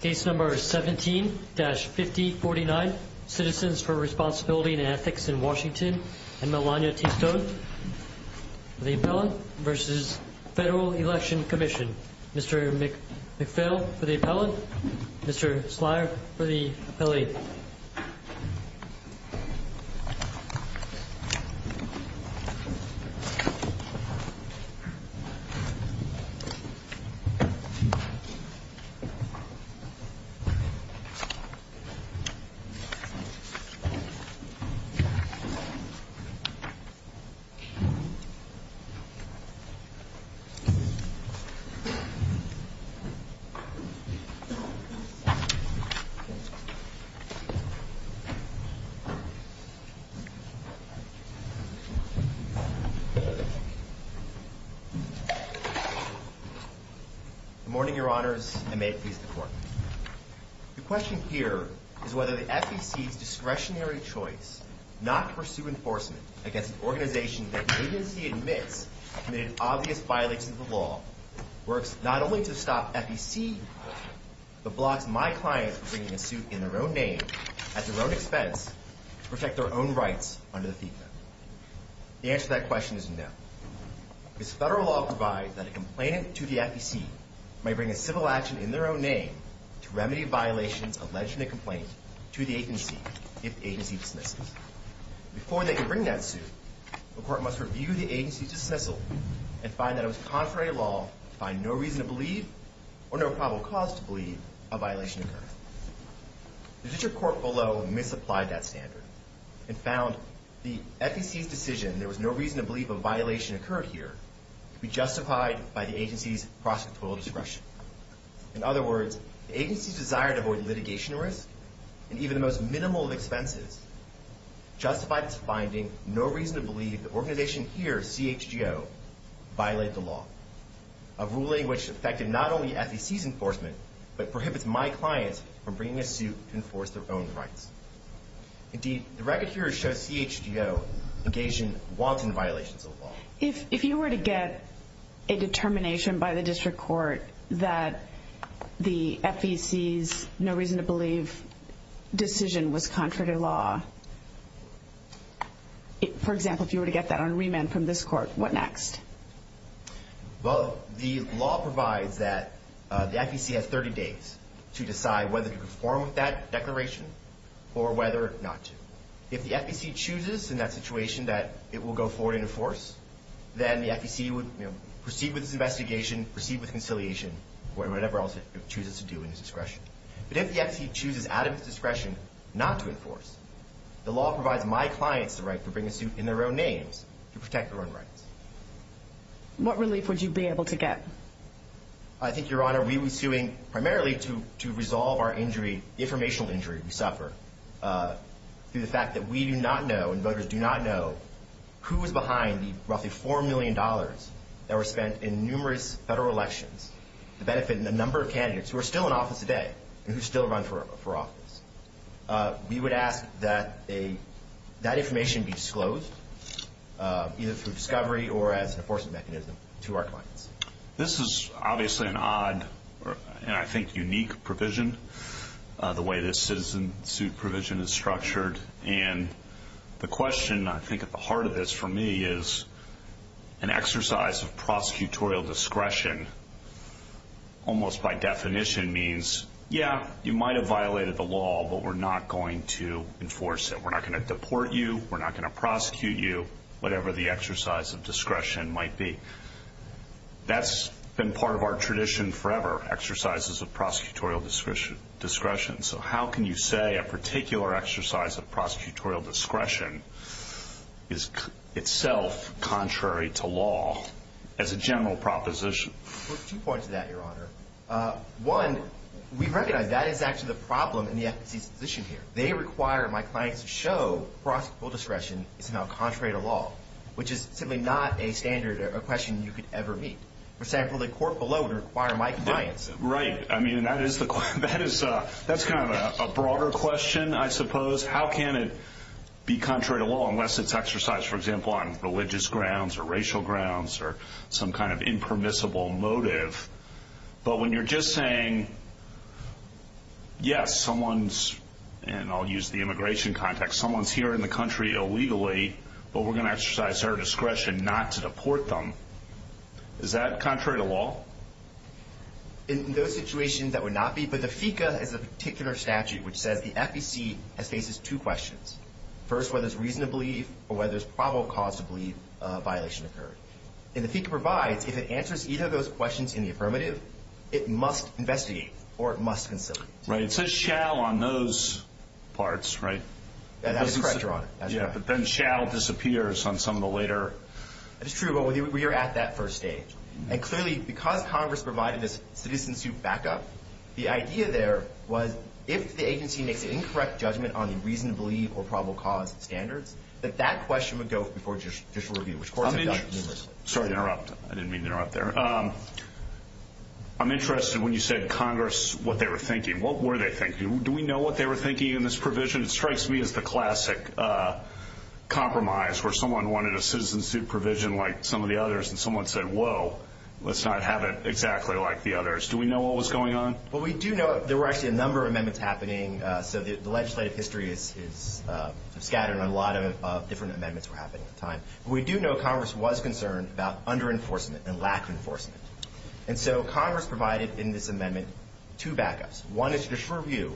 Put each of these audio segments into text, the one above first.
Case number 17-5049 Citizens for Responsibility and Ethics in Washington and Melania T. Stone for the appellant v. Federal Election Commission. Mr. McPhail for the appellant. Mr. Slyer for the appellate. Good morning, your honors. The question here is whether the FEC's discretionary choice not to pursue enforcement against an organization that the agency admits committed obvious violations of the law works not only to stop FEC, but blocks my clients from bringing a suit in their own name at their own expense to protect their own rights under the FECA. The answer to that question is no. This federal law provides that a complainant to the FEC may bring a civil action in their own name to remedy violations alleged in a complaint to the agency if the agency dismisses. Before they can bring that suit, the court must review the agency's dismissal and find that it was contrary to law to find no reason to believe or no probable cause to believe a violation occurred. The district court below misapplied that standard and found the FEC's decision there was no reason to believe a violation occurred here to be justified by the agency's prosecutorial discretion. In other words, the agency's desire to avoid litigation risk and even the most minimal of expenses justified its finding no reason to believe the organization here, CHGO, violated the law, a ruling which affected not only FEC's enforcement, but prohibits my clients from bringing a suit to enforce their own rights. Indeed, the record here shows CHGO engaged in wanton violations of the law. If you were to get a determination by the district court that the FEC's no reason to believe decision was contrary to law, for example, if you were to get that on remand from this court, what next? Well, the law provides that the FEC has 30 days to decide whether to conform with that declaration or whether not to. If the FEC chooses in that situation that it will go forward and enforce, then the FEC would proceed with its investigation, proceed with conciliation, or whatever else it chooses to do in its discretion. But if the FEC chooses out of its discretion not to enforce, the law provides my clients the right to bring a suit in their own names to protect their own rights. What relief would you be able to get? I think, Your Honor, we would be suing primarily to resolve our injury, the informational injury we suffer, through the fact that we do not know and voters do not know who was behind the roughly $4 million that were spent in numerous federal elections to benefit a number of candidates who are still in office today and who still run for office. We would ask that that information be disclosed, either through discovery or as an enforcement mechanism, to our clients. This is obviously an odd and, I think, unique provision, the way this citizen suit provision is structured. And the question, I think, at the heart of this for me is an exercise of prosecutorial discretion, almost by definition means, yeah, you might have violated the law, but we're not going to enforce it. We're not going to deport you. We're not going to prosecute you, whatever the exercise of discretion might be. That's been part of our tradition forever, exercises of prosecutorial discretion. So how can you say a particular exercise of prosecutorial discretion is itself contrary to law as a general proposition? Well, there's two points to that, Your Honor. One, we recognize that is actually the problem in the FTC's position here. They require my clients to show prosecutorial discretion is somehow contrary to law, which is simply not a standard or a question you could ever meet. For example, the court below would require my clients- Right. I mean, that is kind of a broader question, I suppose. How can it be contrary to law unless it's exercised, for example, on religious grounds or racial grounds or some kind of impermissible motive? But when you're just saying, yes, someone's, and I'll use the immigration context, someone's here in the country illegally, but we're going to exercise their discretion not to deport them, is that contrary to law? In those situations, that would not be, but the FECA has a particular statute which says the FECA faces two questions. First, whether it's reason to believe or whether it's probable cause to believe a violation occurred. And the FECA provides, if it answers either of those questions in the affirmative, it must investigate or it must conciliate. Right. It says shall on those parts, right? That is correct, Your Honor. Yeah, but then shall disappears on some of the later- That is true, but we are at that first stage. And clearly, because Congress provided this citizen suit backup, the idea there was if the agency makes an incorrect judgment on the reason to believe or probable cause standards, that that question would go before judicial review, which courts have done numerously. Sorry to interrupt. I didn't mean to interrupt there. I'm interested when you said Congress, what they were thinking. What were they thinking? Do we know what they were thinking in this provision? It strikes me as the classic compromise where someone wanted a citizen suit provision like some of the others and someone said, whoa, let's not have it exactly like the others. Do we know what was going on? Well, we do know there were actually a number of amendments happening. So the legislative history is scattered and a lot of different amendments were happening at the time. But we do know Congress was concerned about under-enforcement and lack of enforcement. And so Congress provided in this amendment two backups. One is judicial review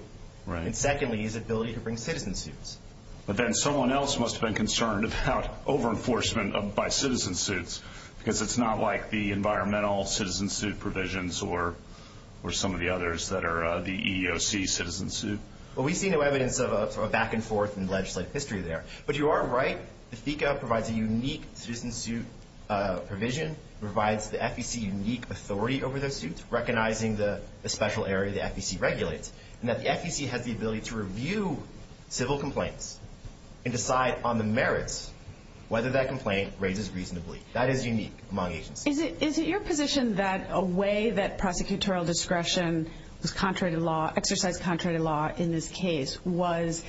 and secondly is the ability to bring citizen suits. But then someone else must have been concerned about over-enforcement by citizen suits because it's not like the environmental citizen suit provisions or some of the others that are the EEOC citizen suit. Well, we see no evidence of a back and forth in legislative history there. But you are right. The FECA provides a unique citizen suit provision, provides the FEC unique authority over those suits, recognizing the special area the FEC regulates. And that the FEC has the ability to review civil complaints and decide on the merits whether that complaint raises reasonably. That is unique among agencies. Is it your position that a way that prosecutorial discretion was contrary to law, exercised contrary to law in this case, was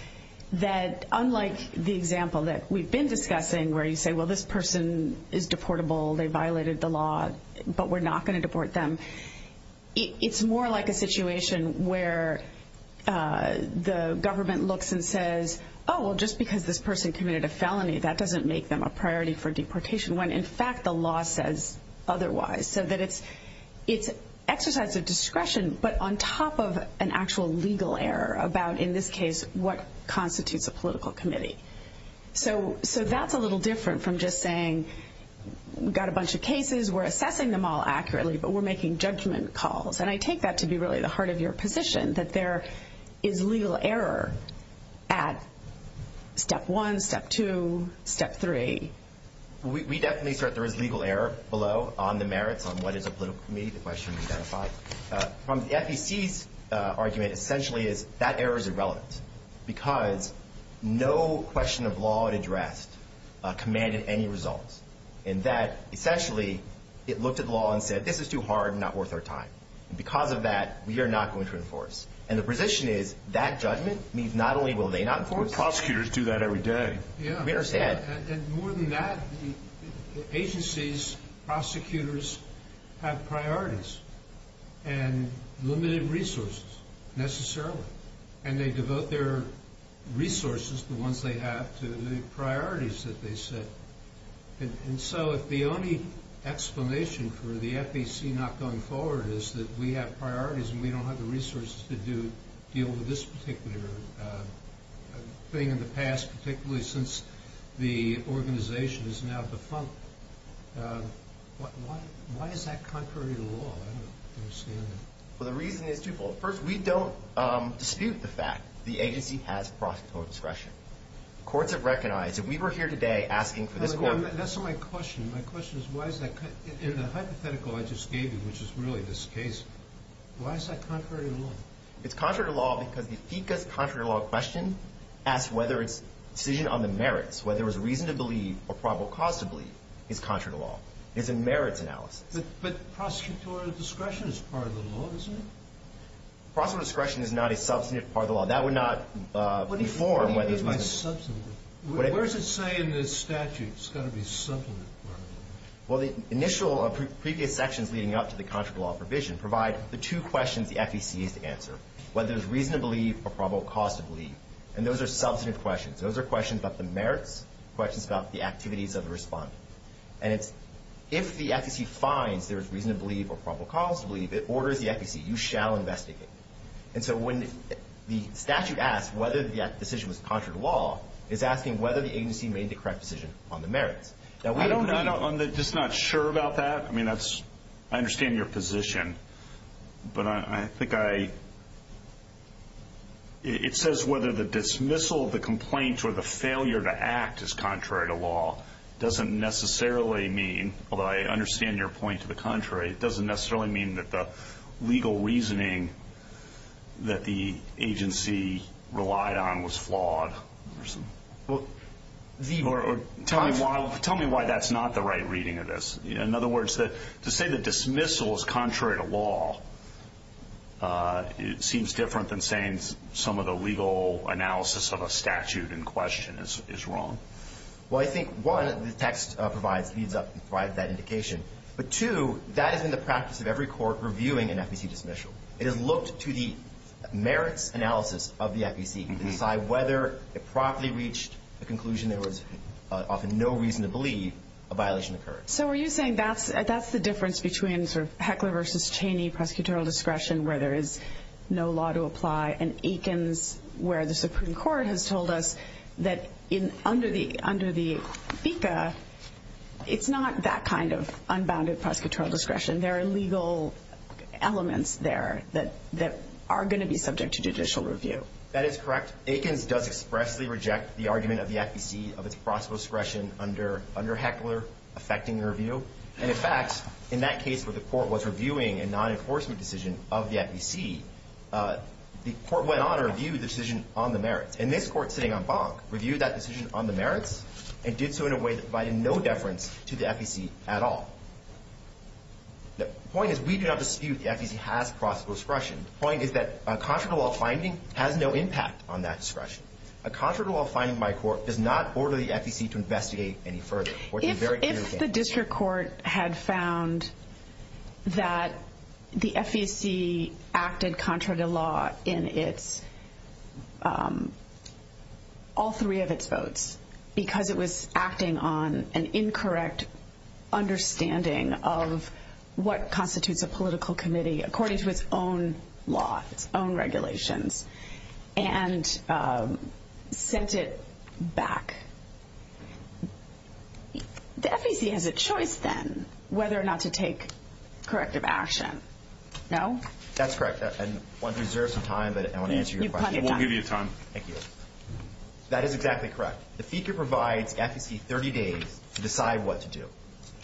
that unlike the example that we've been discussing where you say, well, this person is deportable, they violated the law, but we're not going to deport them, it's more like a situation where the government looks and says, oh, well, just because this person committed a felony, that doesn't make them a priority for deportation when in fact the law says otherwise. So that it's exercise of discretion, but on top of an actual legal error about in this case what constitutes a political committee. So that's a little different from just saying we've got a bunch of cases, we're assessing them all accurately, but we're making judgment calls. And I take that to be really the heart of your position, that there is legal error at step one, step two, step three. We definitely assert there is legal error below on the merits on what is a political committee, the question we've identified. From the FEC's argument essentially is that error is irrelevant because no question of law addressed commanded any results. And that essentially it looked at the law and said, this is too hard and not worth our time. And because of that, we are not going to enforce. And the position is that judgment means not only will they not enforce. But prosecutors do that every day. Yeah. We understand. And more than that, the agencies, prosecutors have priorities and limited resources necessarily. And they devote their resources, the ones they have, to the priorities that they set. And so if the only explanation for the FEC not going forward is that we have priorities and we don't have the resources to deal with this particular thing in the past, particularly since the organization is now defunct, why is that contrary to law? I don't understand it. Well, the reason is twofold. First, we don't dispute the fact the agency has prosecutorial discretion. Courts have recognized, if we were here today asking for this court... That's not my question. My question is why is that... In the hypothetical I just gave you, which is really this case, why is that contrary to law? It's contrary to law because the FECA's contrary to law question asks whether it's a decision on the merits, whether it was reason to believe or probable cause to believe, is contrary to law. It's a merits analysis. But prosecutorial discretion is part of the law, isn't it? Prosecutorial discretion is not a substantive part of the law. That would not inform whether it was... What do you mean by substantive? What does it say in the statute? It's got to be substantive. Well, the initial previous sections leading up to the contrary to law provision provide the two questions the FEC has to answer, whether it was reason to believe or probable cause to believe. And those are substantive questions. Those are questions about the merits, questions about the activities of the respondent. And it's if the FEC finds there is reason to believe or probable cause to believe, it orders the FEC, you shall investigate. And so when the statute asks whether the decision was contrary to law, it's asking whether the agency made the correct decision on the merits. I'm just not sure about that. I mean, that's... I understand your position. But I think I... It says whether the dismissal of the complaint or the failure to act is contrary to law doesn't necessarily mean, although I understand your point to the contrary, it doesn't necessarily mean that the legal reasoning that the agency relied on was flawed. Tell me why that's not the right reading of this. In other words, to say the dismissal is contrary to law seems different than saying some of the legal analysis of a statute in question is wrong. Well, I think, one, the text provides that indication. But two, that is in the practice of every court reviewing an FEC dismissal. It is looked to the merits analysis of the FEC to decide whether it properly reached a conclusion there was often no reason to believe a violation occurred. So are you saying that's the difference between sort of Heckler versus Cheney prosecutorial discretion where there is no law to apply and Eakins where the Supreme Court has told us that under the FECA, it's not that kind of unbounded prosecutorial discretion. There are legal elements there that are going to be subject to judicial review. That is correct. Eakins does expressly reject the argument of the FEC of its prosecutorial discretion under Heckler affecting the review. And in fact, in that case where the court was reviewing a non-enforcement decision of the FEC, the court went on and reviewed the decision on the merits. And this court sitting on Bonk reviewed that decision on the merits and did so in a way that provided no deference to the FEC at all. The point is we do not dispute the FEC has prosecutorial discretion. The point is that a contrary to law finding has no impact on that discretion. A contrary to law finding by a court does not order the FEC to investigate any further. If the district court had found that the FEC acted contrary to law in all three of its votes because it was acting on an incorrect understanding of what constitutes a political committee according to its own law, its own regulations and sent it back the FEC has a choice then whether or not to take corrective action. No? That's correct. I want to reserve some time but I want to answer your question. We'll give you time. Thank you. That is exactly correct. The FEC provides FEC 30 days to decide what to do.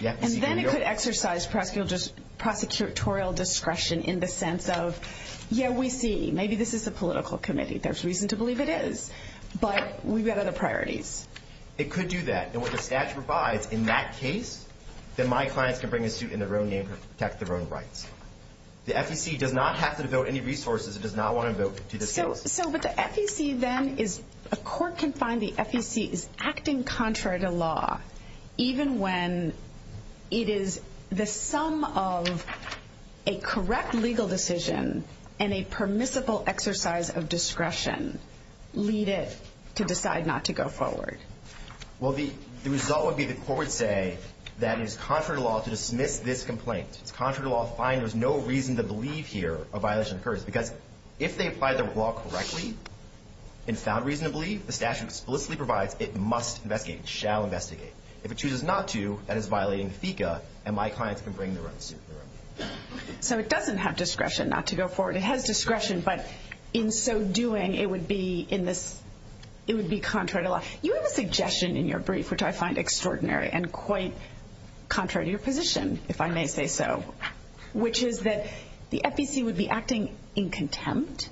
And then it could exercise prosecutorial discretion in the sense of yeah, we see. Maybe this is a political committee. There's reason to believe it is. But we've got other priorities. It could do that. And what the statute provides in that case, then my clients can bring a suit in their own name to protect their own rights. The FEC does not have to devote any resources. It does not want to vote to disclose. But the FEC then is a court can find the FEC is acting contrary to law even when it is the sum of a correct legal decision and a permissible exercise of discretion lead it to decide not to go forward. Well, the result would be the court would say that it is contrary to law to dismiss this complaint. It's contrary to law. Fine. There's no reason to believe here a violation occurs. Because if they apply the law correctly and found reason to believe, the statute explicitly provides it must investigate. It shall investigate. If it chooses not to, that is violating the FECA. And my clients can bring their own suit in their own name. So it doesn't have discretion not to go forward. It has discretion. But in so doing, it would be contrary to law. You have a suggestion in your brief, which I find extraordinary and quite contrary to your position, if I may say so, which is that the FEC would be acting in contempt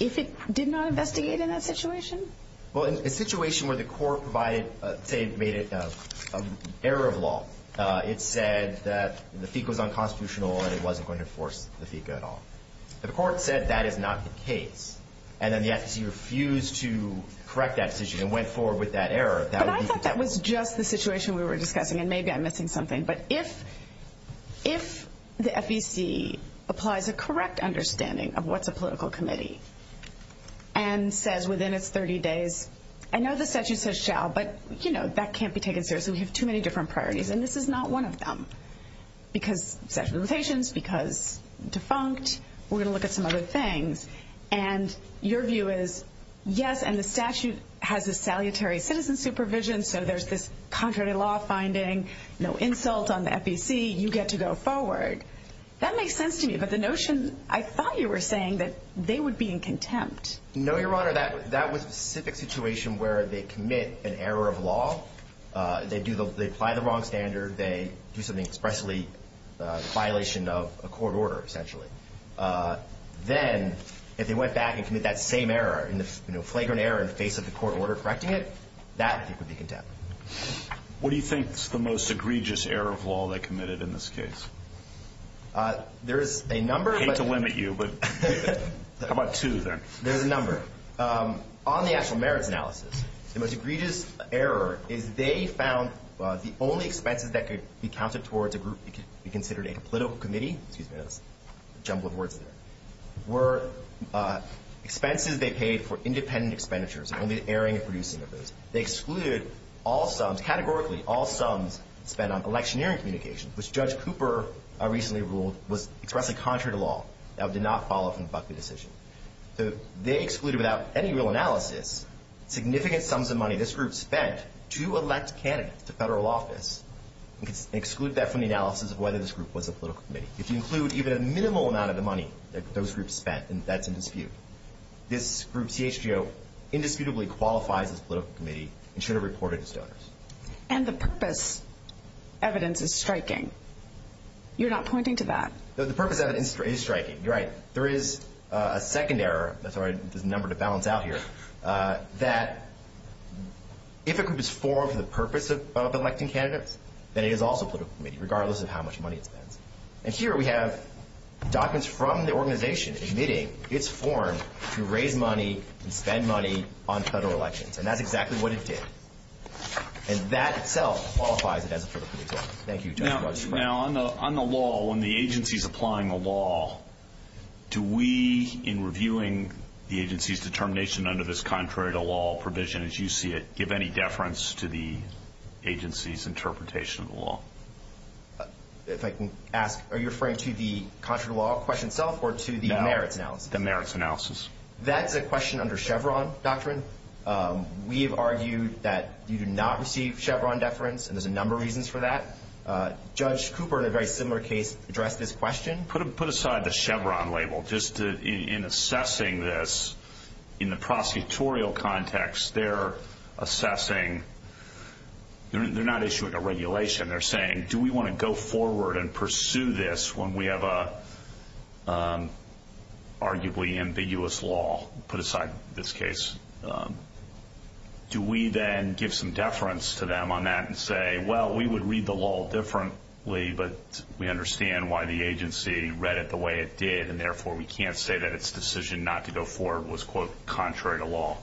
if it did not investigate in that situation? Well, in a situation where the court made it an error of law, it said that the FECA was unconstitutional and it wasn't going to enforce the FECA at all. But the court said that is not the case. And then the FEC refused to correct that decision and went forward with that error. But I thought that was just the situation we were discussing. And maybe I'm missing something. But if the FEC applies a correct understanding of what's a political committee and says within its 30 days, I know the statute says shall, but that can't be taken seriously. We have too many different priorities. And this is not one of them. Because statute of limitations, because defunct, we're going to look at some other things. And your view is, yes, and the statute has a salutary citizen supervision, so there's this contrary to law finding, no insult on the FEC, you get to go forward. That makes sense to me. But the notion, I thought you were saying that they would be in contempt. No, Your Honor, that was a specific situation where they commit an error of law. They apply the wrong standard. They do something expressly in violation of a court order, essentially. Then, if they went back and committed that same error, flagrant error in the face of the court order correcting it, that would be contempt. What do you think is the most egregious error of law they committed in this case? There's a number. I hate to limit you, but how about two, then? There's a number. On the actual merits analysis, the most egregious error is they found the only expenses that could be counted towards a group that could be considered a political committee, were expenses they paid for independent expenditures and only the airing and producing of those. They excluded all sums, categorically, all sums spent on electioneering communications, which Judge Cooper recently ruled was expressly contrary to law. That did not follow from the Buckley decision. They excluded, without any real analysis, significant to elect candidates to federal office. They excluded that from the analysis of whether this group was a political committee. If you include even a minimal amount of the money that those groups spent, then that's in dispute. This group, CHGO, indisputably qualifies as a political committee and should have reported as donors. And the purpose evidence is striking. You're not pointing to that. The purpose evidence is striking. You're right. There is a second error. There's a number to balance out here. That if a group is formed for the purpose of electing candidates, then it is also a political committee, regardless of how much money it spends. And here we have documents from the organization admitting it's formed to raise money and spend money on federal elections. And that's exactly what it did. And that itself qualifies it as a political committee. Thank you, Judge. Now, on the law, when the agency's applying a law, do we, in reviewing the agency's determination under this contrary-to-law provision as you see it, give any deference to the agency's interpretation of the law? If I can ask, are you referring to the contrary-to-law question itself or to the merits analysis? The merits analysis. That is a question under Chevron doctrine. We have argued that you do not receive Chevron deference, and there's a number of reasons for that. Judge Cooper, in a very similar case, addressed this question. Put aside the Chevron label. Just in assessing this, in the prosecutorial context, they're assessing they're not issuing a regulation. They're saying, do we want to go forward and pursue this when we have an arguably ambiguous law? Put aside this case. Do we then give some deference to them on that and say, well, we would read the law differently, but we understand why the agency read it the way it did, and therefore we can't say that its decision not to go forward was, quote, contrary to law?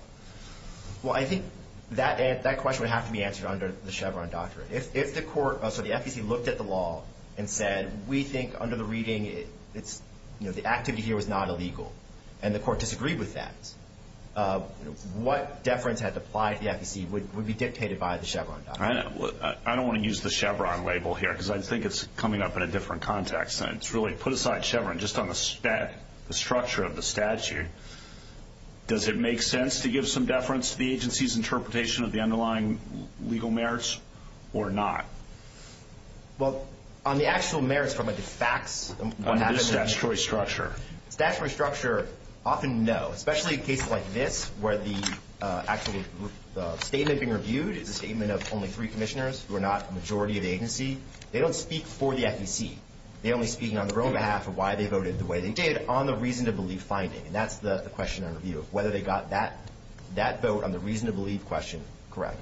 Well, I think that question would have to be answered under the Chevron doctrine. If the court, so the FEC, looked at the law and said, we think under the reading the activity here was not illegal, and the court disagreed with that, what deference had to apply to the FEC would be dictated by the Chevron doctrine? I don't want to use the Chevron label here because I think it's coming up in a different context, and it's really, put aside Chevron, just on the structure of the statute, does it make sense to give some deference to the agency's interpretation of the underlying legal merits or not? Well, on the actual merits, the facts, the statutory structure, often no, especially in cases like this where the statement being reviewed is a statement of only three commissioners who are not the majority of the agency, they don't speak for the FEC. They're only speaking on their own behalf of why they voted the way they did on the reason to believe finding, and that's the question under review of whether they got that vote on the reason to believe question correct.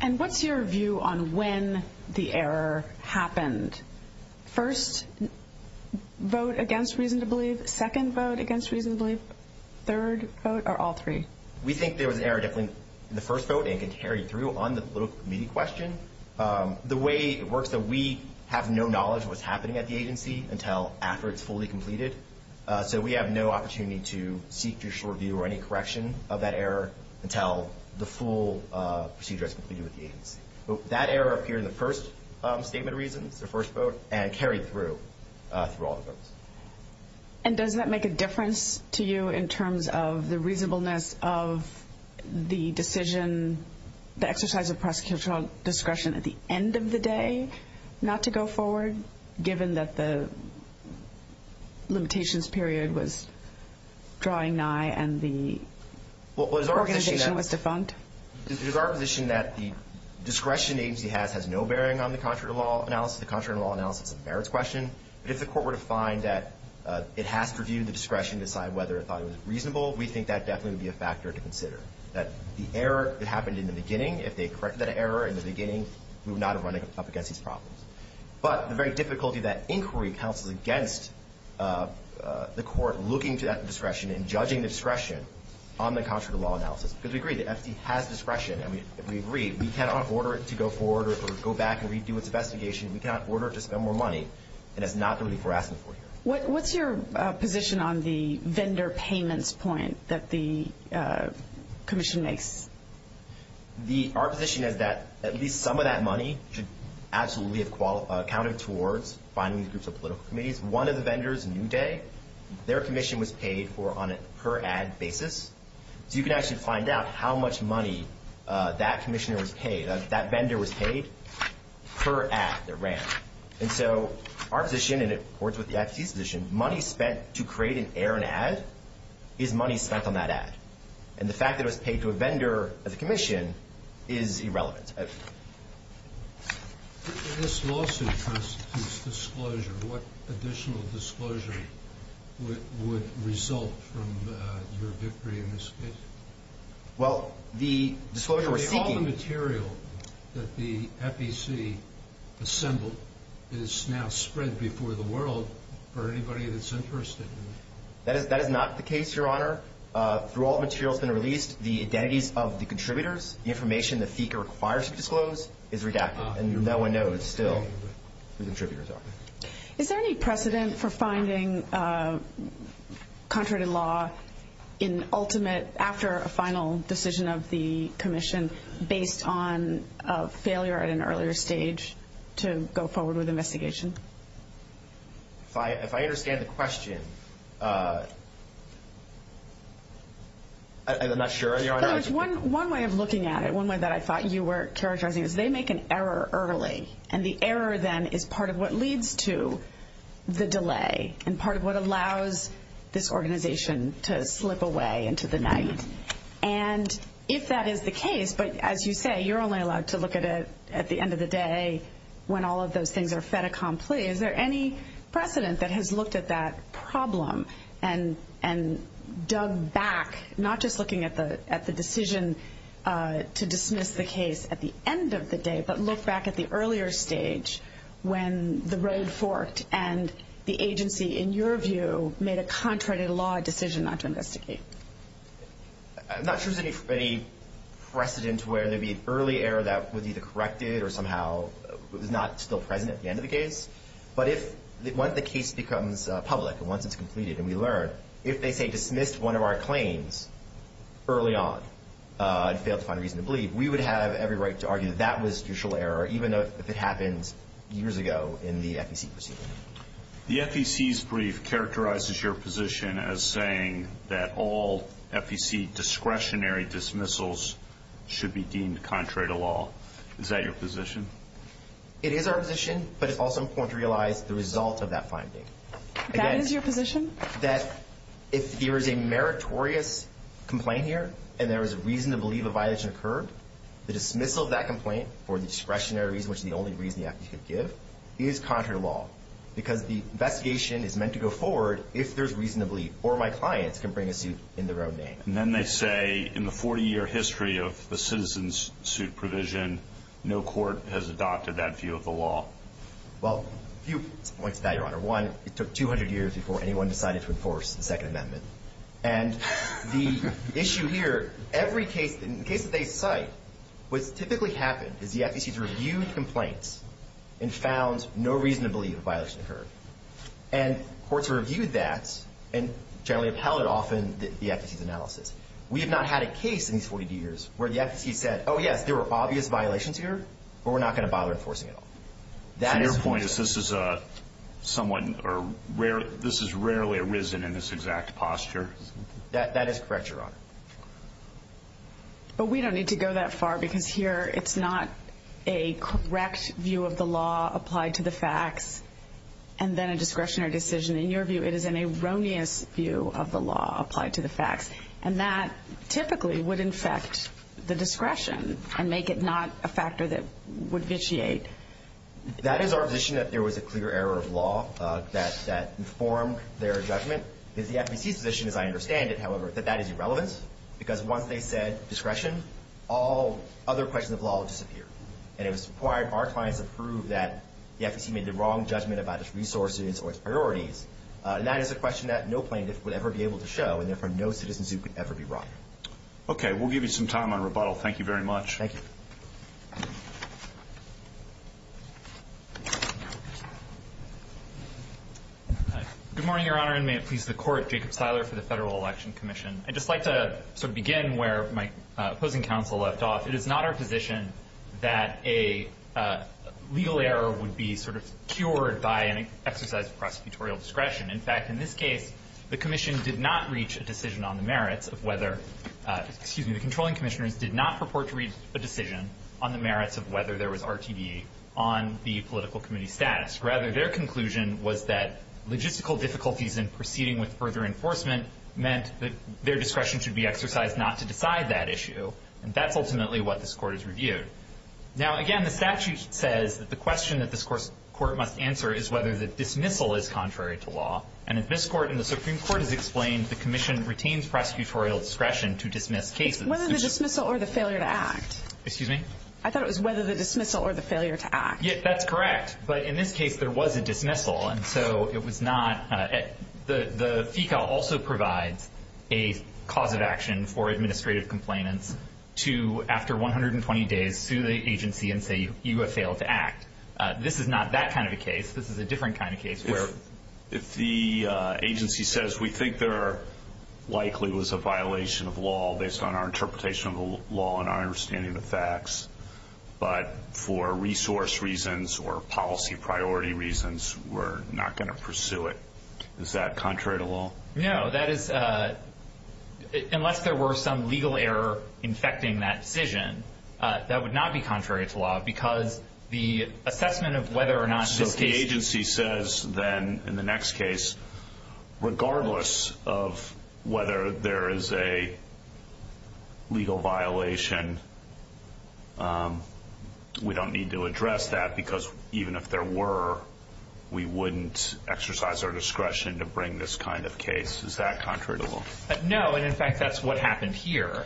And what's your view on when the error happened? First vote against reason to believe, second vote against reason to believe, third vote, or all three? We think there was an error definitely in the first vote, and it can carry through on the political debate. It works that we have no knowledge of what's happening at the agency until after it's fully completed, so we have no opportunity to seek judicial review or any correction of that error until the full procedure is completed with the agency. That error appeared in the first statement of reasons, the first vote, and carried through, through all the votes. And does that make a difference to you in terms of the reasonableness of the decision, the exercise of prosecutorial discretion at the end of the day not to go forward given that the limitations period was drawing nigh and the organization was defunct? It is our position that the discretion the agency has has no bearing on the contrary to law analysis. The contrary to law analysis is a merits question, but if the court were to find that it has to review the discretion to decide whether it thought it was reasonable, we think that definitely would be a factor to consider, that the error that happened in the beginning, if they corrected that error in the beginning, we would not have run up against these problems. But the very difficulty that inquiry counsels against the court looking to that discretion and judging the discretion on the contrary to law analysis, because we agree the agency has discretion, and we agree we cannot order it to go forward or go back and redo its investigation, we cannot order it to spend more money, and that's not the reason we're asking for here. What's your position on the vendor payments point that the agency is paying? Our position is that at least some of that money should absolutely have counted towards finding these groups of political committees. One of the vendors, New Day, their commission was paid on a per ad basis, so you can actually find out how much money that vendor was paid per ad that ran. And so our position, and it works with the agency's position, money spent to create an error in an ad is money spent on that ad. And the fact that it was paid to a vendor as a commission is irrelevant. This lawsuit constitutes disclosure. What additional disclosure would result from your victory in this case? Well, the disclosure we're seeking... All the material that the FEC assembled is now spread before the world for anybody that's interested. That is not the case, Your Honor. Through all the material that's been released, the identities of the contributors, the information the FEC requires to disclose, is redacted. And no one knows still who the contributors are. Is there any precedent for finding contrary to law in ultimate, after a final decision of the commission based on a failure at an earlier stage to go forward with investigation? If I understand the question, I'm not sure, Your Honor. One way of looking at it, one way that I thought you were characterizing it, is they make an error early. And the error then is part of what leads to the delay, and part of what allows this organization to slip away into the night. And if that is the case, but as you say, you're only allowed to look at it at the end of the day when all of those things are fait accompli. Is there any precedent that has looked at that problem and dug back, not just looking at the decision to dismiss the case at the end of the day, but look back at the earlier stage when the road forked and the agency, in your view, made a contrary to law decision not to investigate? I'm not sure there's any precedent where there'd be an early error that was either corrected or somehow was not still present at the end of the case. But if, once the case becomes public, and once it's completed and we learn, if they say dismissed one of our claims early on and failed to find a reason to believe, we would have every right to argue that that was usual error, even if it happened years ago in the FEC proceeding. The FEC's brief characterizes your position as saying that all FEC discretionary dismissals should be deemed contrary to law. Is that your position? It is our position, but it's also important to realize the result of that finding. That is your position? That if there is a meritorious complaint here and there is a reason to believe a violation occurred, the dismissal of that complaint for the discretionary reason, which is the only reason the FEC could give, is contrary to law. Because the investigation is meant to go forward if there's reason to believe, or my clients can bring a suit in their own name. And then they say, in the 40-year history of the citizen's suit provision, no court has adopted that view of the law. Well, a few points to that, Your Honor. One, it took 200 years before anyone decided to enforce the Second Amendment. And the issue here, every case that they cite, what's typically happened is the FEC's reviewed complaints and found no reason to believe a violation occurred. And courts reviewed that and generally upheld it often, the FEC's analysis. We have not had a case in these 40 years where the FEC said, oh, yes, there were obvious violations here, but we're not going to bother enforcing it at all. So your point is this is a somewhat rare, this has rarely arisen in this exact posture? That is correct, Your Honor. But we don't need to go that far because here it's not a correct view of the law applied to the facts and then a discretionary decision. In your view, it is an erroneous view of the law applied to the facts. And that would erode the discretion and make it not a factor that would vitiate. That is our position, that there was a clear error of law that informed their judgment. It's the FEC's position, as I understand it, however, that that is irrelevant because once they said discretion, all other questions of law disappear. And it was required of our clients to prove that the FEC made the wrong judgment about its resources or its priorities. And that is a question that no plaintiff would ever be able to show, and therefore no citizen suit could ever be brought. Okay, we'll give you some time on rebuttal. Thank you very much. Thank you. Good morning, Your Honor, and may it please the Court. Jacob Seiler for the Federal Election Commission. I'd just like to begin where my opposing counsel left off. It is not our position that a legal error would be cured by an exercise of prosecutorial discretion. In fact, in this case, the commission did not reach a decision on the merits of whether, excuse me, the controlling commissioners did not purport to reach a decision on the merits of whether there was RTD on the political committee's status. Rather, their conclusion was that logistical difficulties in proceeding with further enforcement meant that their discretion should be exercised not to decide that issue. And that's ultimately what this Court has reviewed. Now, again, the statute says that the question that this Court must answer is whether the dismissal is contrary to law. And as this Court and the Supreme Court has explained, the commission retains prosecutorial discretion to dismiss cases. Whether the dismissal or the failure to act. Excuse me? I thought it was whether the dismissal or the failure to act. Yeah, that's correct. But in this case, there was a dismissal. And so it was not the FECA also provides a cause of action for administrative complainants to, after 120 days, sue the agency and say you have failed to act. This is not that kind of a case. This is a different kind of case. If the agency says we think there likely was a violation of law based on our interpretation of the law and our understanding of the facts, but for resource reasons or policy priority reasons, we're not going to pursue it. Is that contrary to law? No, that is unless there were some legal error infecting that decision, that would not be contrary to law because the assessment of whether or not this case... So if the agency says then in the next case regardless of whether there is a legal violation, we don't need to address that because even if there were, we wouldn't exercise our discretion to bring this kind of case. Is that contrary to law? No, and in fact that's what happened here.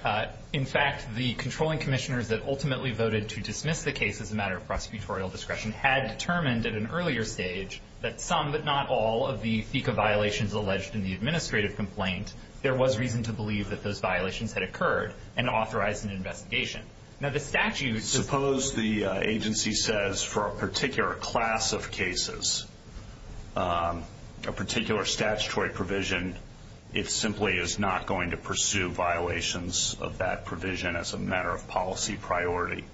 In fact, the controlling commissioners that ultimately voted to dismiss the case as a matter of prosecutorial discretion had determined at an earlier stage that some, but not all, of the FICA violations alleged in the administrative complaint there was reason to believe that those violations had occurred and authorize an investigation. Now the statute... Suppose the agency says for a particular class of cases a particular statutory provision, it simply is not going to pursue violations of that provision as a matter of policy priority.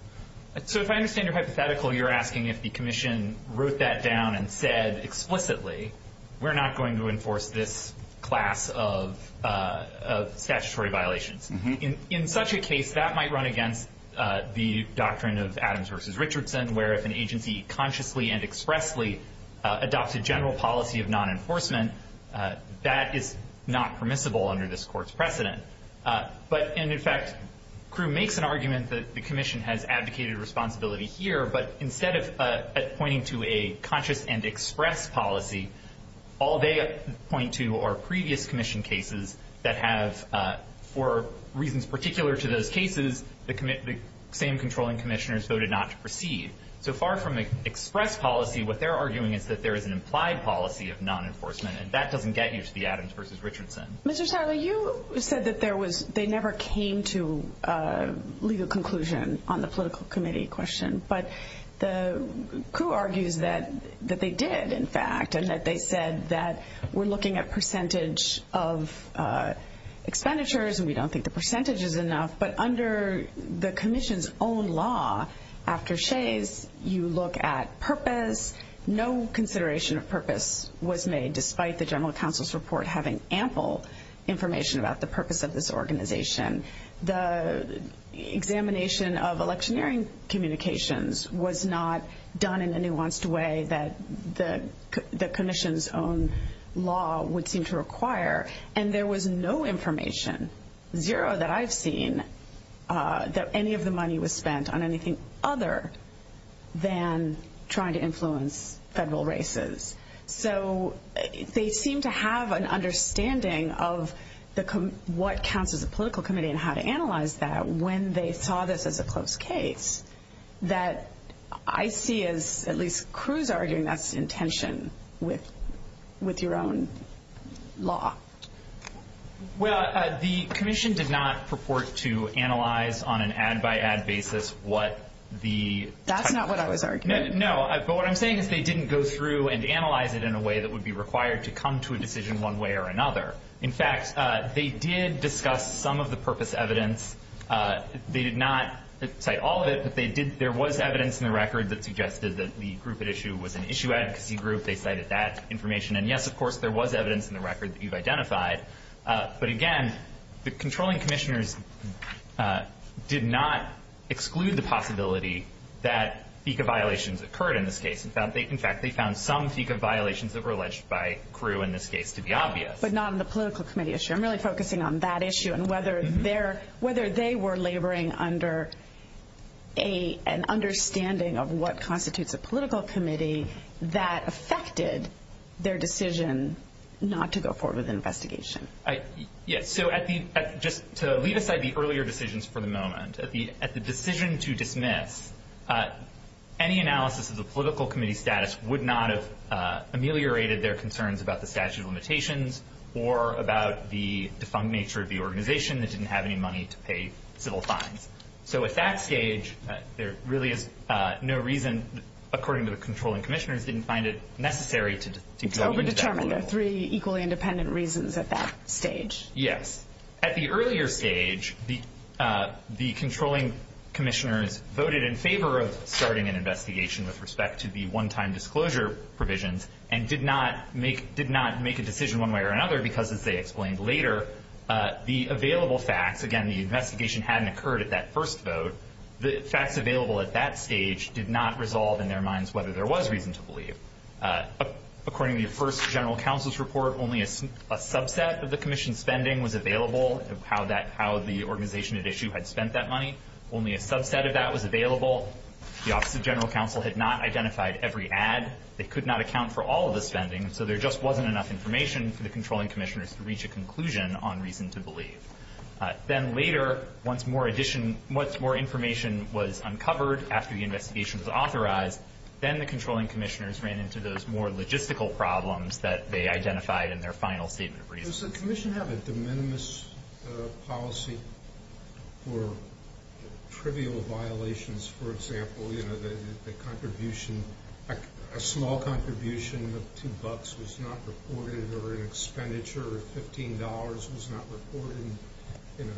So if I understand your hypothetical, you're asking if the commission wrote that down and said explicitly we're not going to enforce this class of statutory violations. In such a case, that might run against the doctrine of Adams v. Richardson where if an agency consciously and expressly adopts a general policy of non-enforcement, that is not permissible under this court's precedent. But in fact Crewe makes an argument that the commission has abdicated responsibility here, but instead of pointing to a conscious and express policy all they point to are previous commission cases that have for reasons particular to those cases the same controlling commissioners voted not to proceed. So far from an express policy, what they're arguing is that there is an implied policy of non-enforcement and that doesn't get you to the Adams v. Richardson. Mr. Sarla, you said that there was no discussion to legal conclusion on the political committee question but Crewe argues that they did in fact and that they said that we're looking at percentage of expenditures and we don't think the percentage is enough, but under the commission's own law after Shays, you look at purpose. No consideration of purpose was made despite the general counsel's report having ample information about the purpose of this organization. The examination of electioneering communications was not done in a nuanced way that the commission's own law would seem to require and there was no information zero that I've seen that any of the money was spent on anything other than trying to influence federal races. So they seem to have an idea of what counts as a political committee and how to analyze that when they saw this as a close case that I see as at least Crewe's arguing that's intention with your own law. Well, the commission did not purport to analyze on an ad by ad basis what the... That's not what I was arguing. No, but what I'm saying is they didn't go through and analyze it in a way that would be required to come to a decision one way or the other. In fact, they did discuss some of the purpose evidence. They did not cite all of it, but there was evidence in the record that suggested that the group at issue was an issue advocacy group. They cited that information. And yes, of course, there was evidence in the record that you've identified. But again, the controlling commissioners did not exclude the possibility that FICA violations occurred in this case. In fact, they found some FICA violations that were alleged by the political committee issue. I'm really focusing on that issue and whether they were laboring under an understanding of what constitutes a political committee that affected their decision not to go forward with an investigation. Yes, so just to leave aside the earlier decisions for the moment, at the decision to dismiss, any analysis of the political committee status would not have ameliorated their concerns about the statute of limitations or about the defunct nature of the organization that didn't have any money to pay civil fines. So at that stage, there really is no reason, according to the controlling commissioners, didn't find it necessary to go into that role. It's over-determined. There are three equally independent reasons at that stage. Yes. At the earlier stage, the controlling commissioners voted in favor of starting an investigation with respect to the one-time disclosure provisions and did not make a decision one way or another because, as they explained later, the available facts, again, the investigation hadn't occurred at that first vote. The facts available at that stage did not resolve in their minds whether there was reason to believe. According to the first general counsel's report, only a subset of the commission's spending was available, how the organization at issue had spent that money. Only a subset of that was available. The Office of General Counsel had not identified every ad. They could not account for all of the spending, so there just wasn't enough information for the controlling commissioners to reach a conclusion on reason to believe. Then later, once more information was uncovered after the investigation was authorized, then the controlling commissioners ran into those more logistical problems that they identified in their final statement of reasons. Does the commission have a de minimis policy for trivial violations, for example, a small contribution of $2 was not reported or an expenditure of $15 was not reported?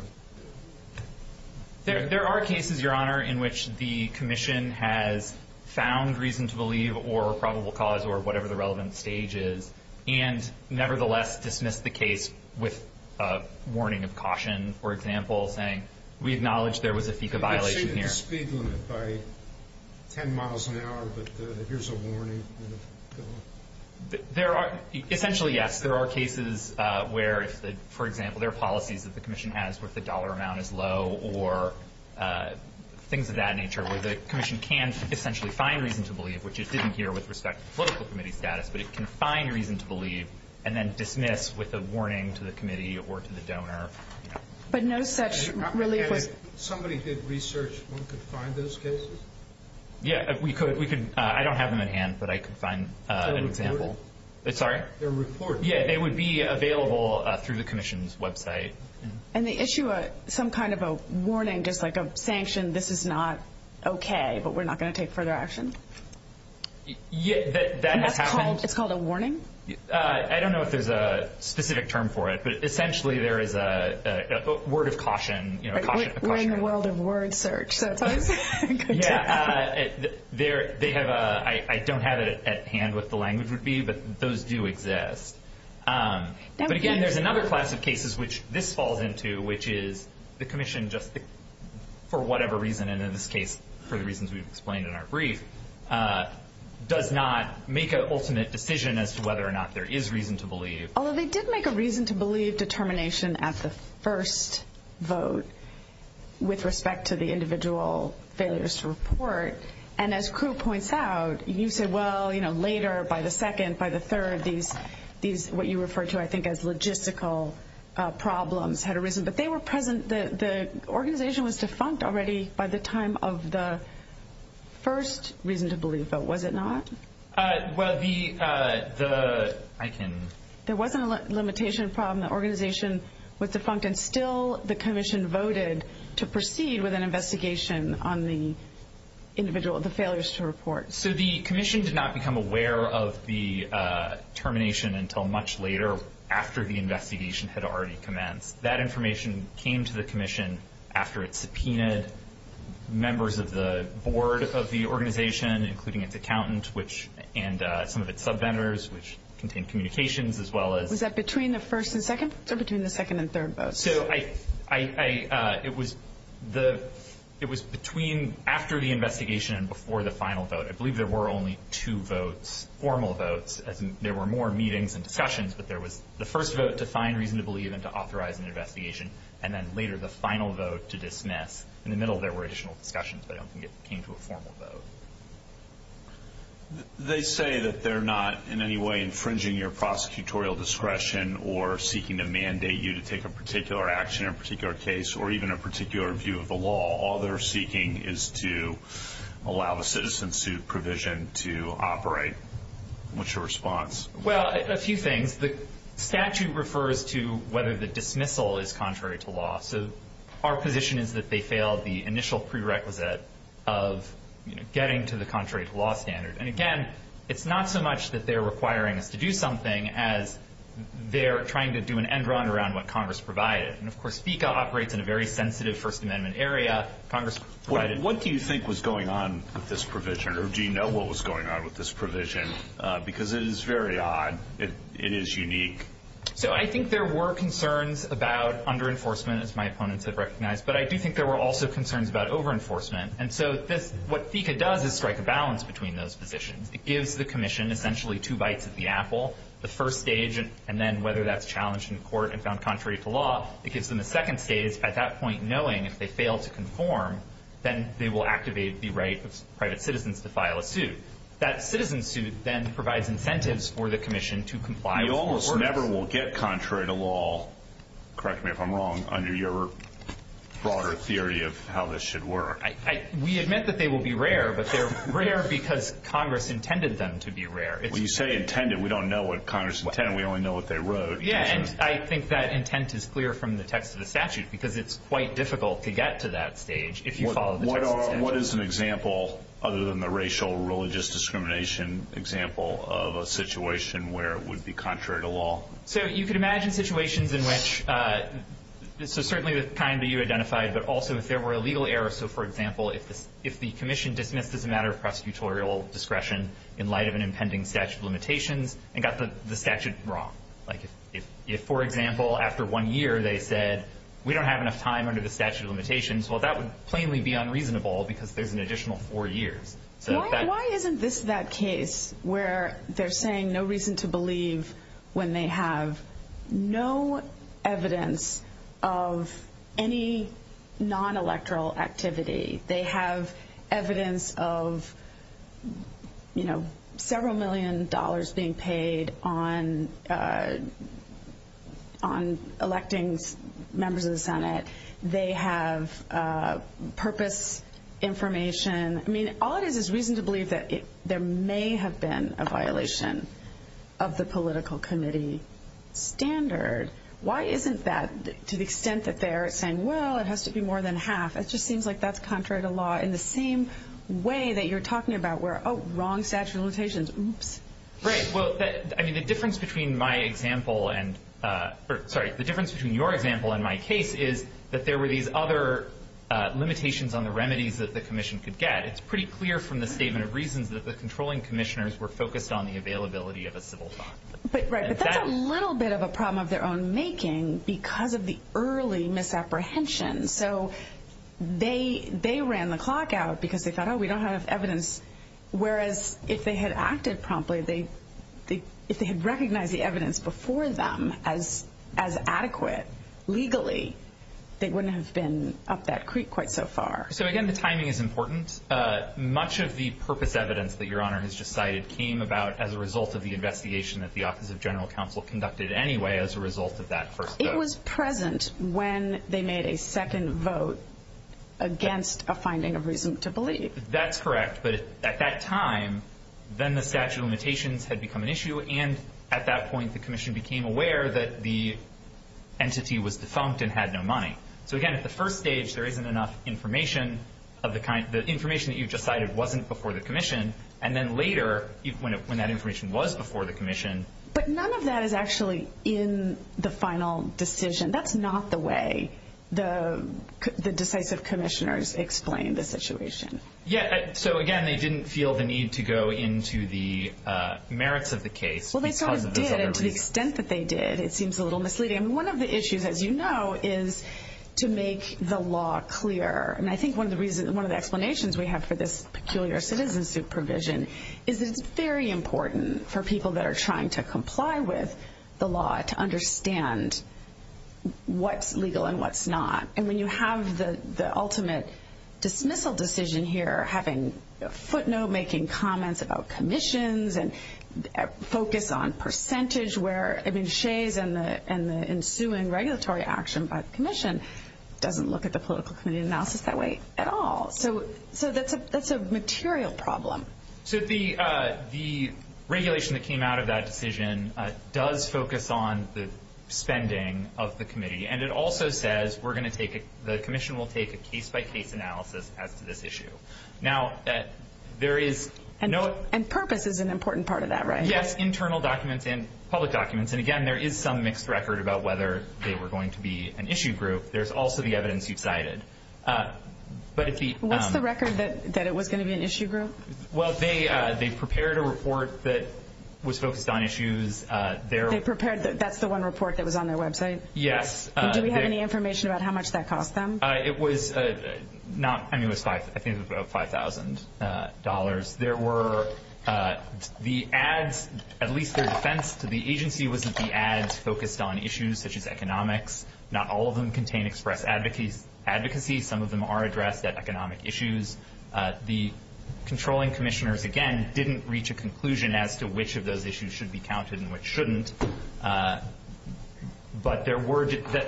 There are cases, Your Honor, in which the commission has found reason to believe or probable cause or whatever the relevant stage is and nevertheless dismissed the case with a warning of caution, for example, saying, we acknowledge there was a FICA violation here. Essentially, yes. There are cases where, for example, there are policies that the commission has where the dollar amount is low or things of that nature where the commission can essentially find reason to believe, which it didn't here with respect to the political committee status, but it can find reason to believe and then dismiss with a warning to the committee or to the donor. If somebody did research, one could find those cases? Yeah, we could. I don't have them in hand, but I could find an example. They're reported? Yeah, they would be available through the commission's website. And they issue some kind of a warning, just like a sanction, this is not okay, but we're not going to take further action? It's called a warning? I don't know if there's a specific term for it, but essentially there is a word of caution. We're in the world of word search. I don't have it at hand what the language would be, but those do exist. But again, there's another class of cases which this falls into, which is the commission just for whatever reason, and in this case, for the reasons we've explained in our brief, does not make an ultimate decision as to whether or not there is reason to believe. Although they did make a reason to believe determination at the first vote with respect to the individual failures to report, and as Kru points out, you said later, by the second, by the third, what you referred to as logistical problems had arisen, but they were present the organization was defunct already by the time of the first reason to believe vote, was it not? There wasn't a limitation problem. The organization was defunct and still the commission voted to proceed with an investigation on the individual, the failures to report. So the commission did not become aware of the termination until much later after the investigation had already commenced. That information came to the commission after it subpoenaed members of the board of the commission and some of its subvendors, which contained communications as well as Was that between the first and second? Or between the second and third votes? It was between after the investigation and before the final vote. I believe there were only two votes, formal votes. There were more meetings and discussions, but there was the first vote to find reason to believe and to authorize an investigation, and then later the final vote to dismiss. In the middle, there were additional discussions, but I don't think it came to a formal vote. They say that they're not in any way infringing your prosecutorial discretion or seeking to mandate you to take a particular action in a particular case or even a particular view of the law. All they're seeking is to allow the citizen suit provision to operate. What's your response? A few things. The statute refers to whether the dismissal is contrary to law. Our position is that they failed the initial prerequisite of getting to the contrary to law standard. And again, it's not so much that they're requiring us to do something as they're trying to do an end run around what Congress provided. And of course, FECA operates in a very sensitive First Amendment area. What do you think was going on with this provision? Or do you know what was going on with this provision? Because it is very odd. It is unique. I think there were concerns about under-enforcement, as my opponents have recognized. But I do think there were also concerns about over-enforcement. And so what FECA does is strike a balance between those positions. It gives the commission essentially two bites at the apple, the first stage and then whether that's challenged in court and found contrary to law. It gives them the second stage, at that point knowing if they fail to conform, then they will activate the right of private citizens to file a suit. That citizen suit then provides incentives for the commission to comply with court orders. We almost never will get contrary to law correct me if I'm wrong, under your broader theory of how this should work. We admit that they will be rare, but they're rare because Congress intended them to be rare. When you say intended, we don't know what Congress intended. We only know what they wrote. Yeah, and I think that intent is clear from the text of the statute because it's quite difficult to get to that stage if you follow the text of the statute. What is an example, other than the racial or religious discrimination example of a situation where it would be contrary to law? You could imagine situations in which, certainly the kind that you identified, but also if there were a legal error. For example, if the commission dismissed as a matter of prosecutorial discretion in light of an impending statute of limitations and got the statute wrong. If, for example, after one year they said we don't have enough time under the statute of limitations, that would plainly be unreasonable because there's an additional four years. Why isn't this that case where they're saying there's no reason to believe when they have no evidence of any non-electoral activity? They have evidence of several million dollars being paid on electing members of the Senate. They have purpose information. All it is is reason to believe that there may have been a violation of the political committee standard. Why isn't that, to the extent that they're saying well, it has to be more than half, it just seems like that's contrary to law in the same way that you're talking about where, oh, wrong statute of limitations, oops. Right, well, the difference between my example and sorry, the difference between your example and my case is that there were these other limitations on the remedies that the commission could get. It's pretty clear from the statement of reasons that the controlling commissioners were focused on the availability of a civil clock. Right, but that's a little bit of a problem of their own making because of the early misapprehension. So they ran the clock out because they thought, oh, we don't have evidence, whereas if they had acted promptly, if they had recognized the evidence before them as adequate legally, they wouldn't have been up that creek quite so far. So again, the timing is important. Much of the purpose evidence that Your Honor has just cited came about as a result of the investigation that the Office of General Counsel conducted anyway as a result of that first vote. It was present when they made a second vote against a finding of reason to believe. That's correct, but at that time, then the statute of limitations had become an issue, and at that point the commission became aware that the entity was defunct and had no money. So again, at the first stage, there was the information that you've just cited wasn't before the commission, and then later when that information was before the commission... But none of that is actually in the final decision. That's not the way the decisive commissioners explained the situation. Yeah, so again, they didn't feel the need to go into the merits of the case because of this other reason. Well, they sort of did, and to the extent that they did, it seems a little misleading. One of the issues, as you know, is to make the law clear, and I think one of the explanations we have for this peculiar citizen supervision is that it's very important for people that are trying to comply with the law to understand what's legal and what's not. And when you have the ultimate dismissal decision here, having footnote-making comments about commissions and focus on percentage where Shays and the ensuing regulatory action by the commission doesn't look at the political committee analysis that way at all. So that's a material problem. The regulation that came out of that decision does focus on the spending of the committee, and it also says the commission will take a case-by-case analysis as to this issue. And purpose is an important part of that, right? Yes, internal documents and public documents. And again, there is some mixed record about whether they were going to be an issue group. There's also the evidence you cited. What's the record that it was going to be an issue group? Well, they prepared a report that was focused on issues. That's the one report that was on their website? Yes. Do we have any information about how much that cost them? I think it was about $5,000. The ads, at least their defense to the agency, was that the ads focused on issues such as economics. Not all of them contain express advocacy. Some of them are addressed at economic issues. The controlling commissioners, again, didn't reach a conclusion as to which of those issues should be counted and which shouldn't. But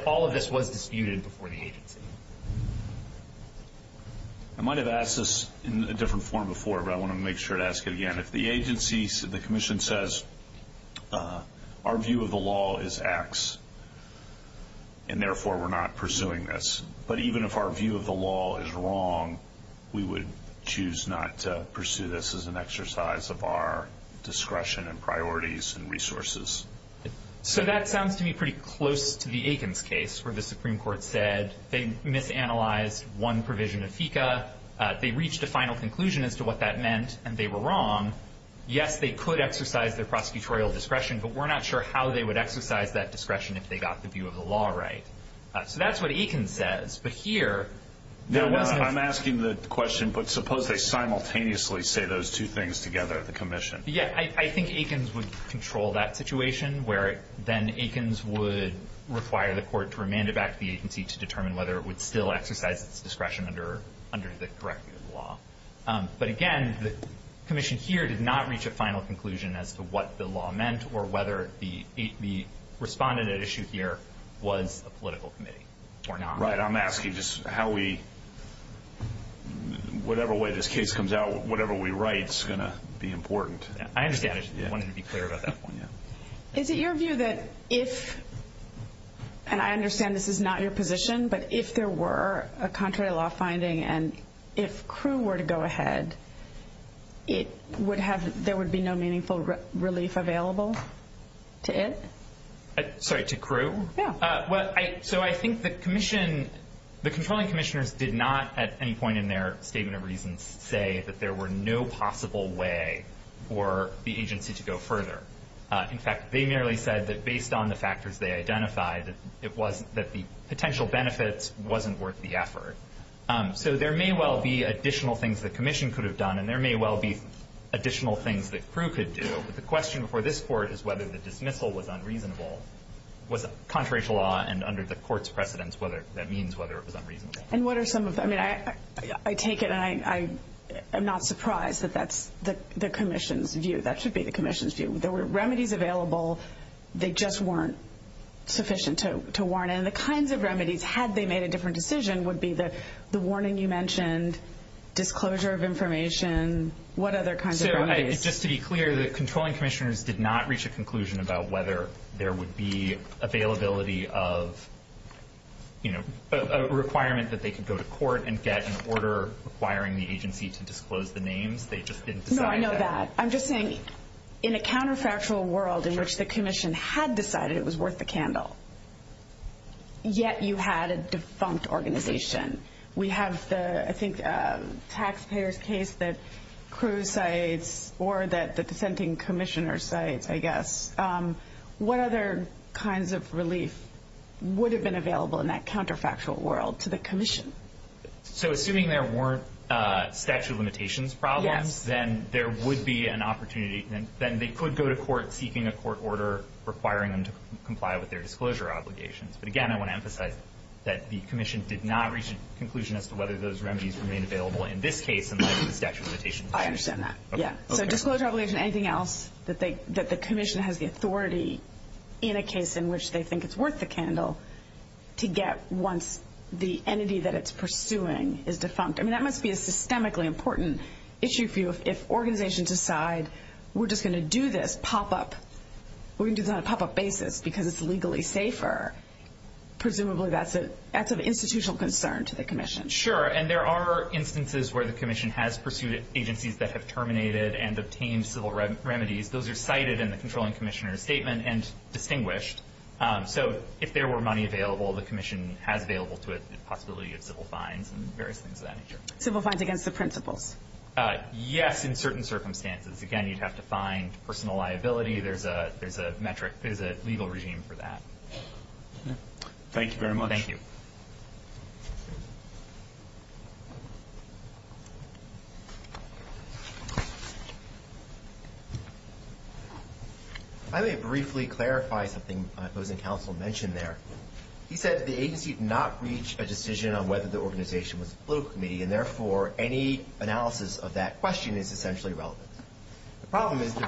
all of this was disputed before the agency. I might have asked this in a different form before, but I want to make sure to ask it again. If the agency, the commission says our view of the law is X and therefore we're not pursuing this, but even if our view of the law is wrong, we would choose not to pursue this as an exercise of our discretion and priorities and resources. So that sounds to me pretty close to the Aikens case where the Supreme Court said they misanalyzed one provision of FECA. They reached a final conclusion as to what that meant, and they were wrong. Yes, they could exercise their prosecutorial discretion, but we're not sure how they would exercise that discretion if they got the view of the law right. So that's what Aikens says, but here... I'm asking the question, but suppose they simultaneously say those two things together, the commission. Yeah, I think Aikens would control that situation where then Aikens would require the court to remand it back to the agency to determine whether it would still exercise its discretion under the correct view of the law. But again, the commission here did not reach a final conclusion as to what the law meant or whether the respondent at issue here was a political committee or not. Right, I'm asking just how we whatever way this case comes out, whatever we write is going to be important. I understand. I just wanted to be clear about that. Is it your view that if, and I understand this is not your position, but if there were a contrary law finding and if Crewe were to go ahead, there would be no meaningful relief available to it? Sorry, to Crewe? Yeah. So I think the commission, the controlling commissioners did not at any point in their statement of reasons say that there were no possible way for the agency to go further. In fact, they merely said that based on the factors they identified, that the potential benefits wasn't worth the effort. So there may well be additional things the commission could have done and there may well be additional things that Crewe could do. But the question before this court is whether the dismissal was unreasonable, was contrary to law and under the court's precedence, whether that means whether it was unreasonable. And what are some of the, I mean, I take it and I'm not surprised that that's the commission's view. That should be the commission's view. There were remedies available. They just weren't sufficient to make a different decision would be the warning you mentioned, disclosure of information, what other kinds of remedies? So just to be clear, the controlling commissioners did not reach a conclusion about whether there would be availability of, you know, a requirement that they could go to court and get an order requiring the agency to disclose the names. They just didn't decide that. No, I know that. I'm just saying, in a counterfactual world in which the commission had decided it was worth the candle, yet you had a defunct organization. We have the, I think, taxpayer's case that Crewe cites or that the dissenting commissioner cites, I guess. What other kinds of relief would have been available in that counterfactual world to the commission? So assuming there weren't statute of limitations problems, then there would be an opportunity, then they could go to court seeking a court order requiring them to comply with their disclosure obligations. But again, I want to emphasize that the commission did not reach a conclusion as to whether those remedies were made available in this case, unless the statute of limitations. I understand that. Yeah. So disclosure obligation, anything else that the commission has the authority in a case in which they think it's worth the candle to get once the entity that it's pursuing is defunct. I mean, that must be a systemically important issue for you if organizations decide we're just going to do this on a pop-up basis because it's legally safer. Presumably that's of institutional concern to the commission. Sure. And there are instances where the commission has pursued agencies that have terminated and obtained civil remedies. Those are cited in the controlling commissioner's statement and distinguished. So if there were money available, the commission has available to it the possibility of civil fines and various things of that nature. Civil fines against the principals. Yes, in certain cases there's a criminal liability. There's a metric. There's a legal regime for that. Thank you very much. Thank you. I may briefly clarify something the opposing counsel mentioned there. He said the agency did not reach a decision on whether the organization was a political committee and therefore any analysis of that question is essentially irrelevant. The problem is the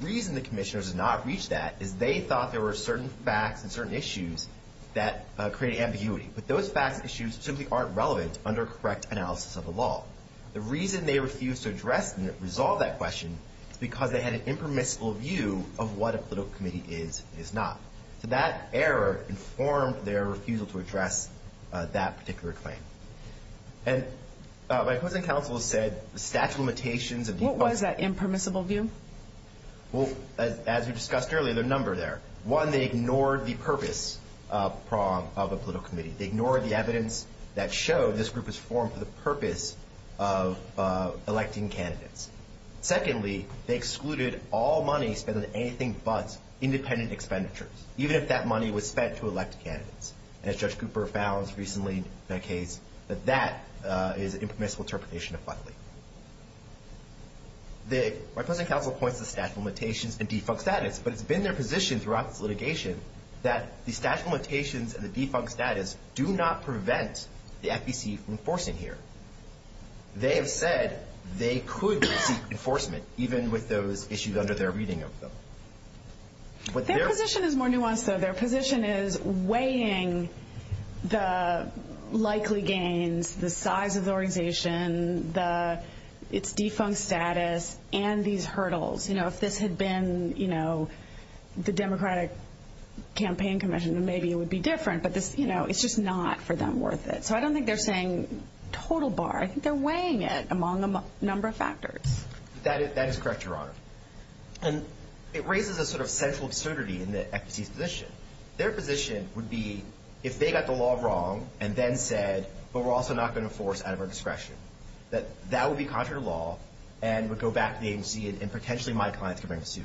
reason the commissioners did not reach that is they thought there were certain facts and certain issues that created ambiguity. But those facts and issues simply aren't relevant under correct analysis of the law. The reason they refused to address and resolve that question is because they had an impermissible view of what a political committee is and is not. So that error informed their refusal to address that particular claim. And my opposing counsel said the statute of limitations of defunding. What was that impermissible view? Well, as we discussed earlier, there are a number there. One, they ignored the purpose of a political committee. They ignored the evidence that showed this group was formed for the purpose of electing candidates. Secondly, they excluded all money spent on anything but independent expenditures, even if that money was spent to elect candidates. And as Judge Cooper found recently in that case, that that is an impermissible interpretation of funding. My opposing counsel points to statute of limitations and defunct status, but it's been their position throughout this litigation that the statute of limitations and the defunct status do not prevent the FEC from enforcing here. They have said they could seek enforcement, even with those issues under their reading of them. Their position is more nuanced though. Their position is weighing the size of the organization, its defunct status, and these hurdles. You know, if this had been the Democratic Campaign Commission, maybe it would be different, but it's just not for them worth it. So I don't think they're saying total bar. I think they're weighing it among a number of factors. That is correct, Your Honor. And it raises a sort of central absurdity in the FEC's position. Their position would be if they got the law wrong and then said, but we're also not going to enforce out of our discretion, that that would be contrary to law and would go back to the agency and potentially my clients could bring a suit.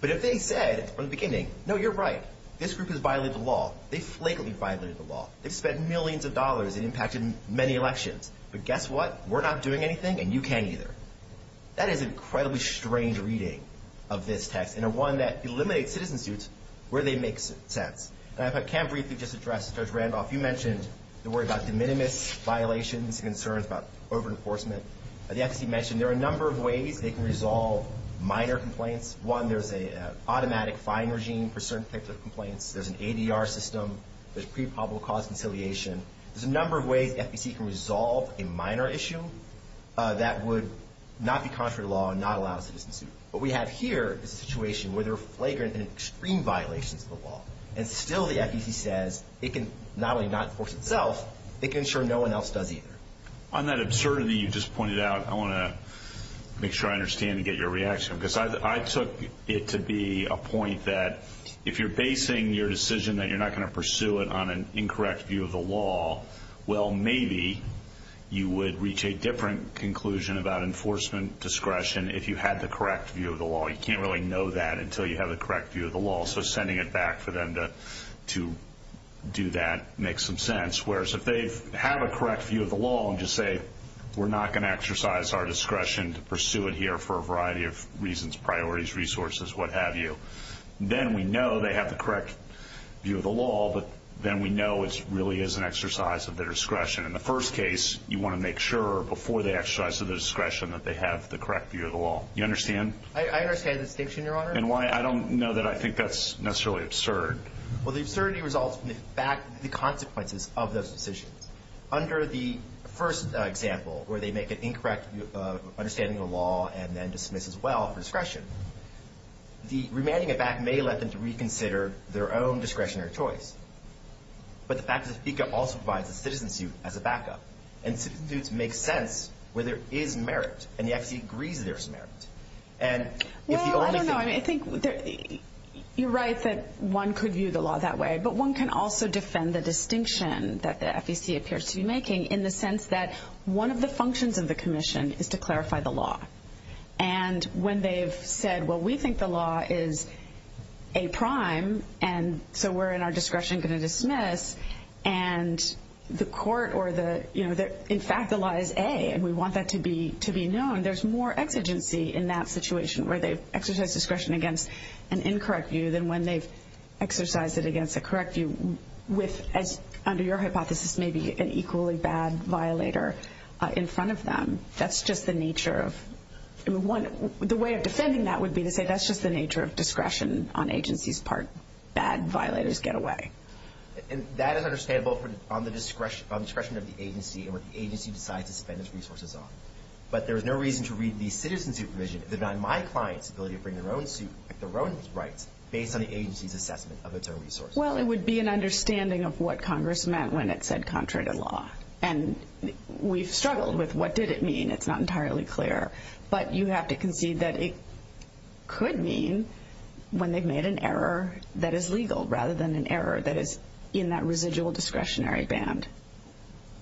But if they said from the beginning, no, you're right, this group has violated the law. They flakily violated the law. They've spent millions of dollars and impacted many elections. But guess what? We're not doing anything and you can't either. That is an incredibly strange reading of this text and one that eliminates citizen suits where they make sense. And if I can briefly just address Judge Randolph, you mentioned the worry about de minimis violations and concerns about over-enforcement. The FEC mentioned there are a number of ways they can resolve minor complaints. One, there's an automatic fine regime for certain particular complaints. There's an ADR system. There's pre-public cause conciliation. There's a number of ways the FEC can resolve a minor issue that would not be contrary to law and not allow a citizen suit. What we have here is a situation where there are flagrant and still the FEC says it can not only not enforce itself, it can ensure no one else does either. On that absurdity you just pointed out, I want to make sure I understand and get your reaction because I took it to be a point that if you're basing your decision that you're not going to pursue it on an incorrect view of the law, well, maybe you would reach a different conclusion about enforcement discretion if you had the correct view of the law. You can't really know that until you have the correct view of the law to do that, make some sense, whereas if they have a correct view of the law and just say we're not going to exercise our discretion to pursue it here for a variety of reasons, priorities, resources, what have you, then we know they have the correct view of the law but then we know it really is an exercise of their discretion. In the first case you want to make sure before they exercise their discretion that they have the correct view of the law. You understand? I understand the distinction, your honor. I don't know that I think that's necessarily absurd. Well, the absurdity results from the consequences of those decisions. Under the first example where they make an incorrect understanding of the law and then dismiss as well for discretion, the remanding of that may let them to reconsider their own discretionary choice, but the fact that FICA also provides a citizen suit as a backup and citizen suits make sense where there is merit and the FCC agrees there is merit. Well, I don't know. I think you're right that one could view the law that way, but one can also defend the distinction that the FCC appears to be making in the sense that one of the functions of the commission is to clarify the law. And when they've said, well, we think the law is A prime and so we're in our discretion going to dismiss and the court or the, you know, in fact the law is A and we want that to be known, there's more exigency in that situation where they've exercised discretion against an incorrect view than when they've exercised it against a correct view with, as under your hypothesis, maybe an equally bad violator in front of them. That's just the nature of the way of defending that would be to say that's just the nature of discretion on agency's part. Bad violators get away. And that is understandable on the discretion of the agency and where the agency decides to spend its resources on. But there is no reason to read the citizen supervision if they're not in my client's ability to bring their own suit, their own rights based on the agency's assessment of its own resources. Well, it would be an understanding of what Congress meant when it said contrary to law. And we've struggled with what did it mean. It's not entirely clear. But you have to concede that it could mean when they've made an error that is legal rather than an error that is in that residual discretionary band.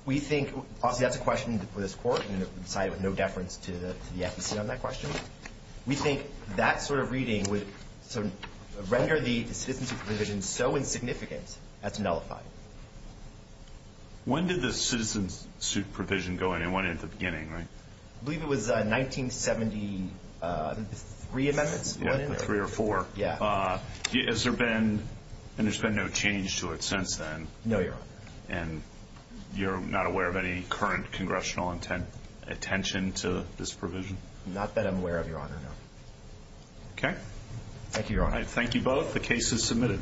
We think, obviously that's a question for this court and it would be decided with no deference to the FEC on that question. We think that sort of reading would render the citizen supervision so insignificant that it's nullified. When did the citizen supervision go in? It went in at the beginning, right? I believe it was 1973 amendments. Yeah, the three or four. Has there been, and there's been no change to it since then? No, Your Honor. And you're not aware of any current congressional attention to this provision? Not that I'm aware of, Your Honor, no. Okay. Thank you, Your Honor. Thank you both. The case is submitted.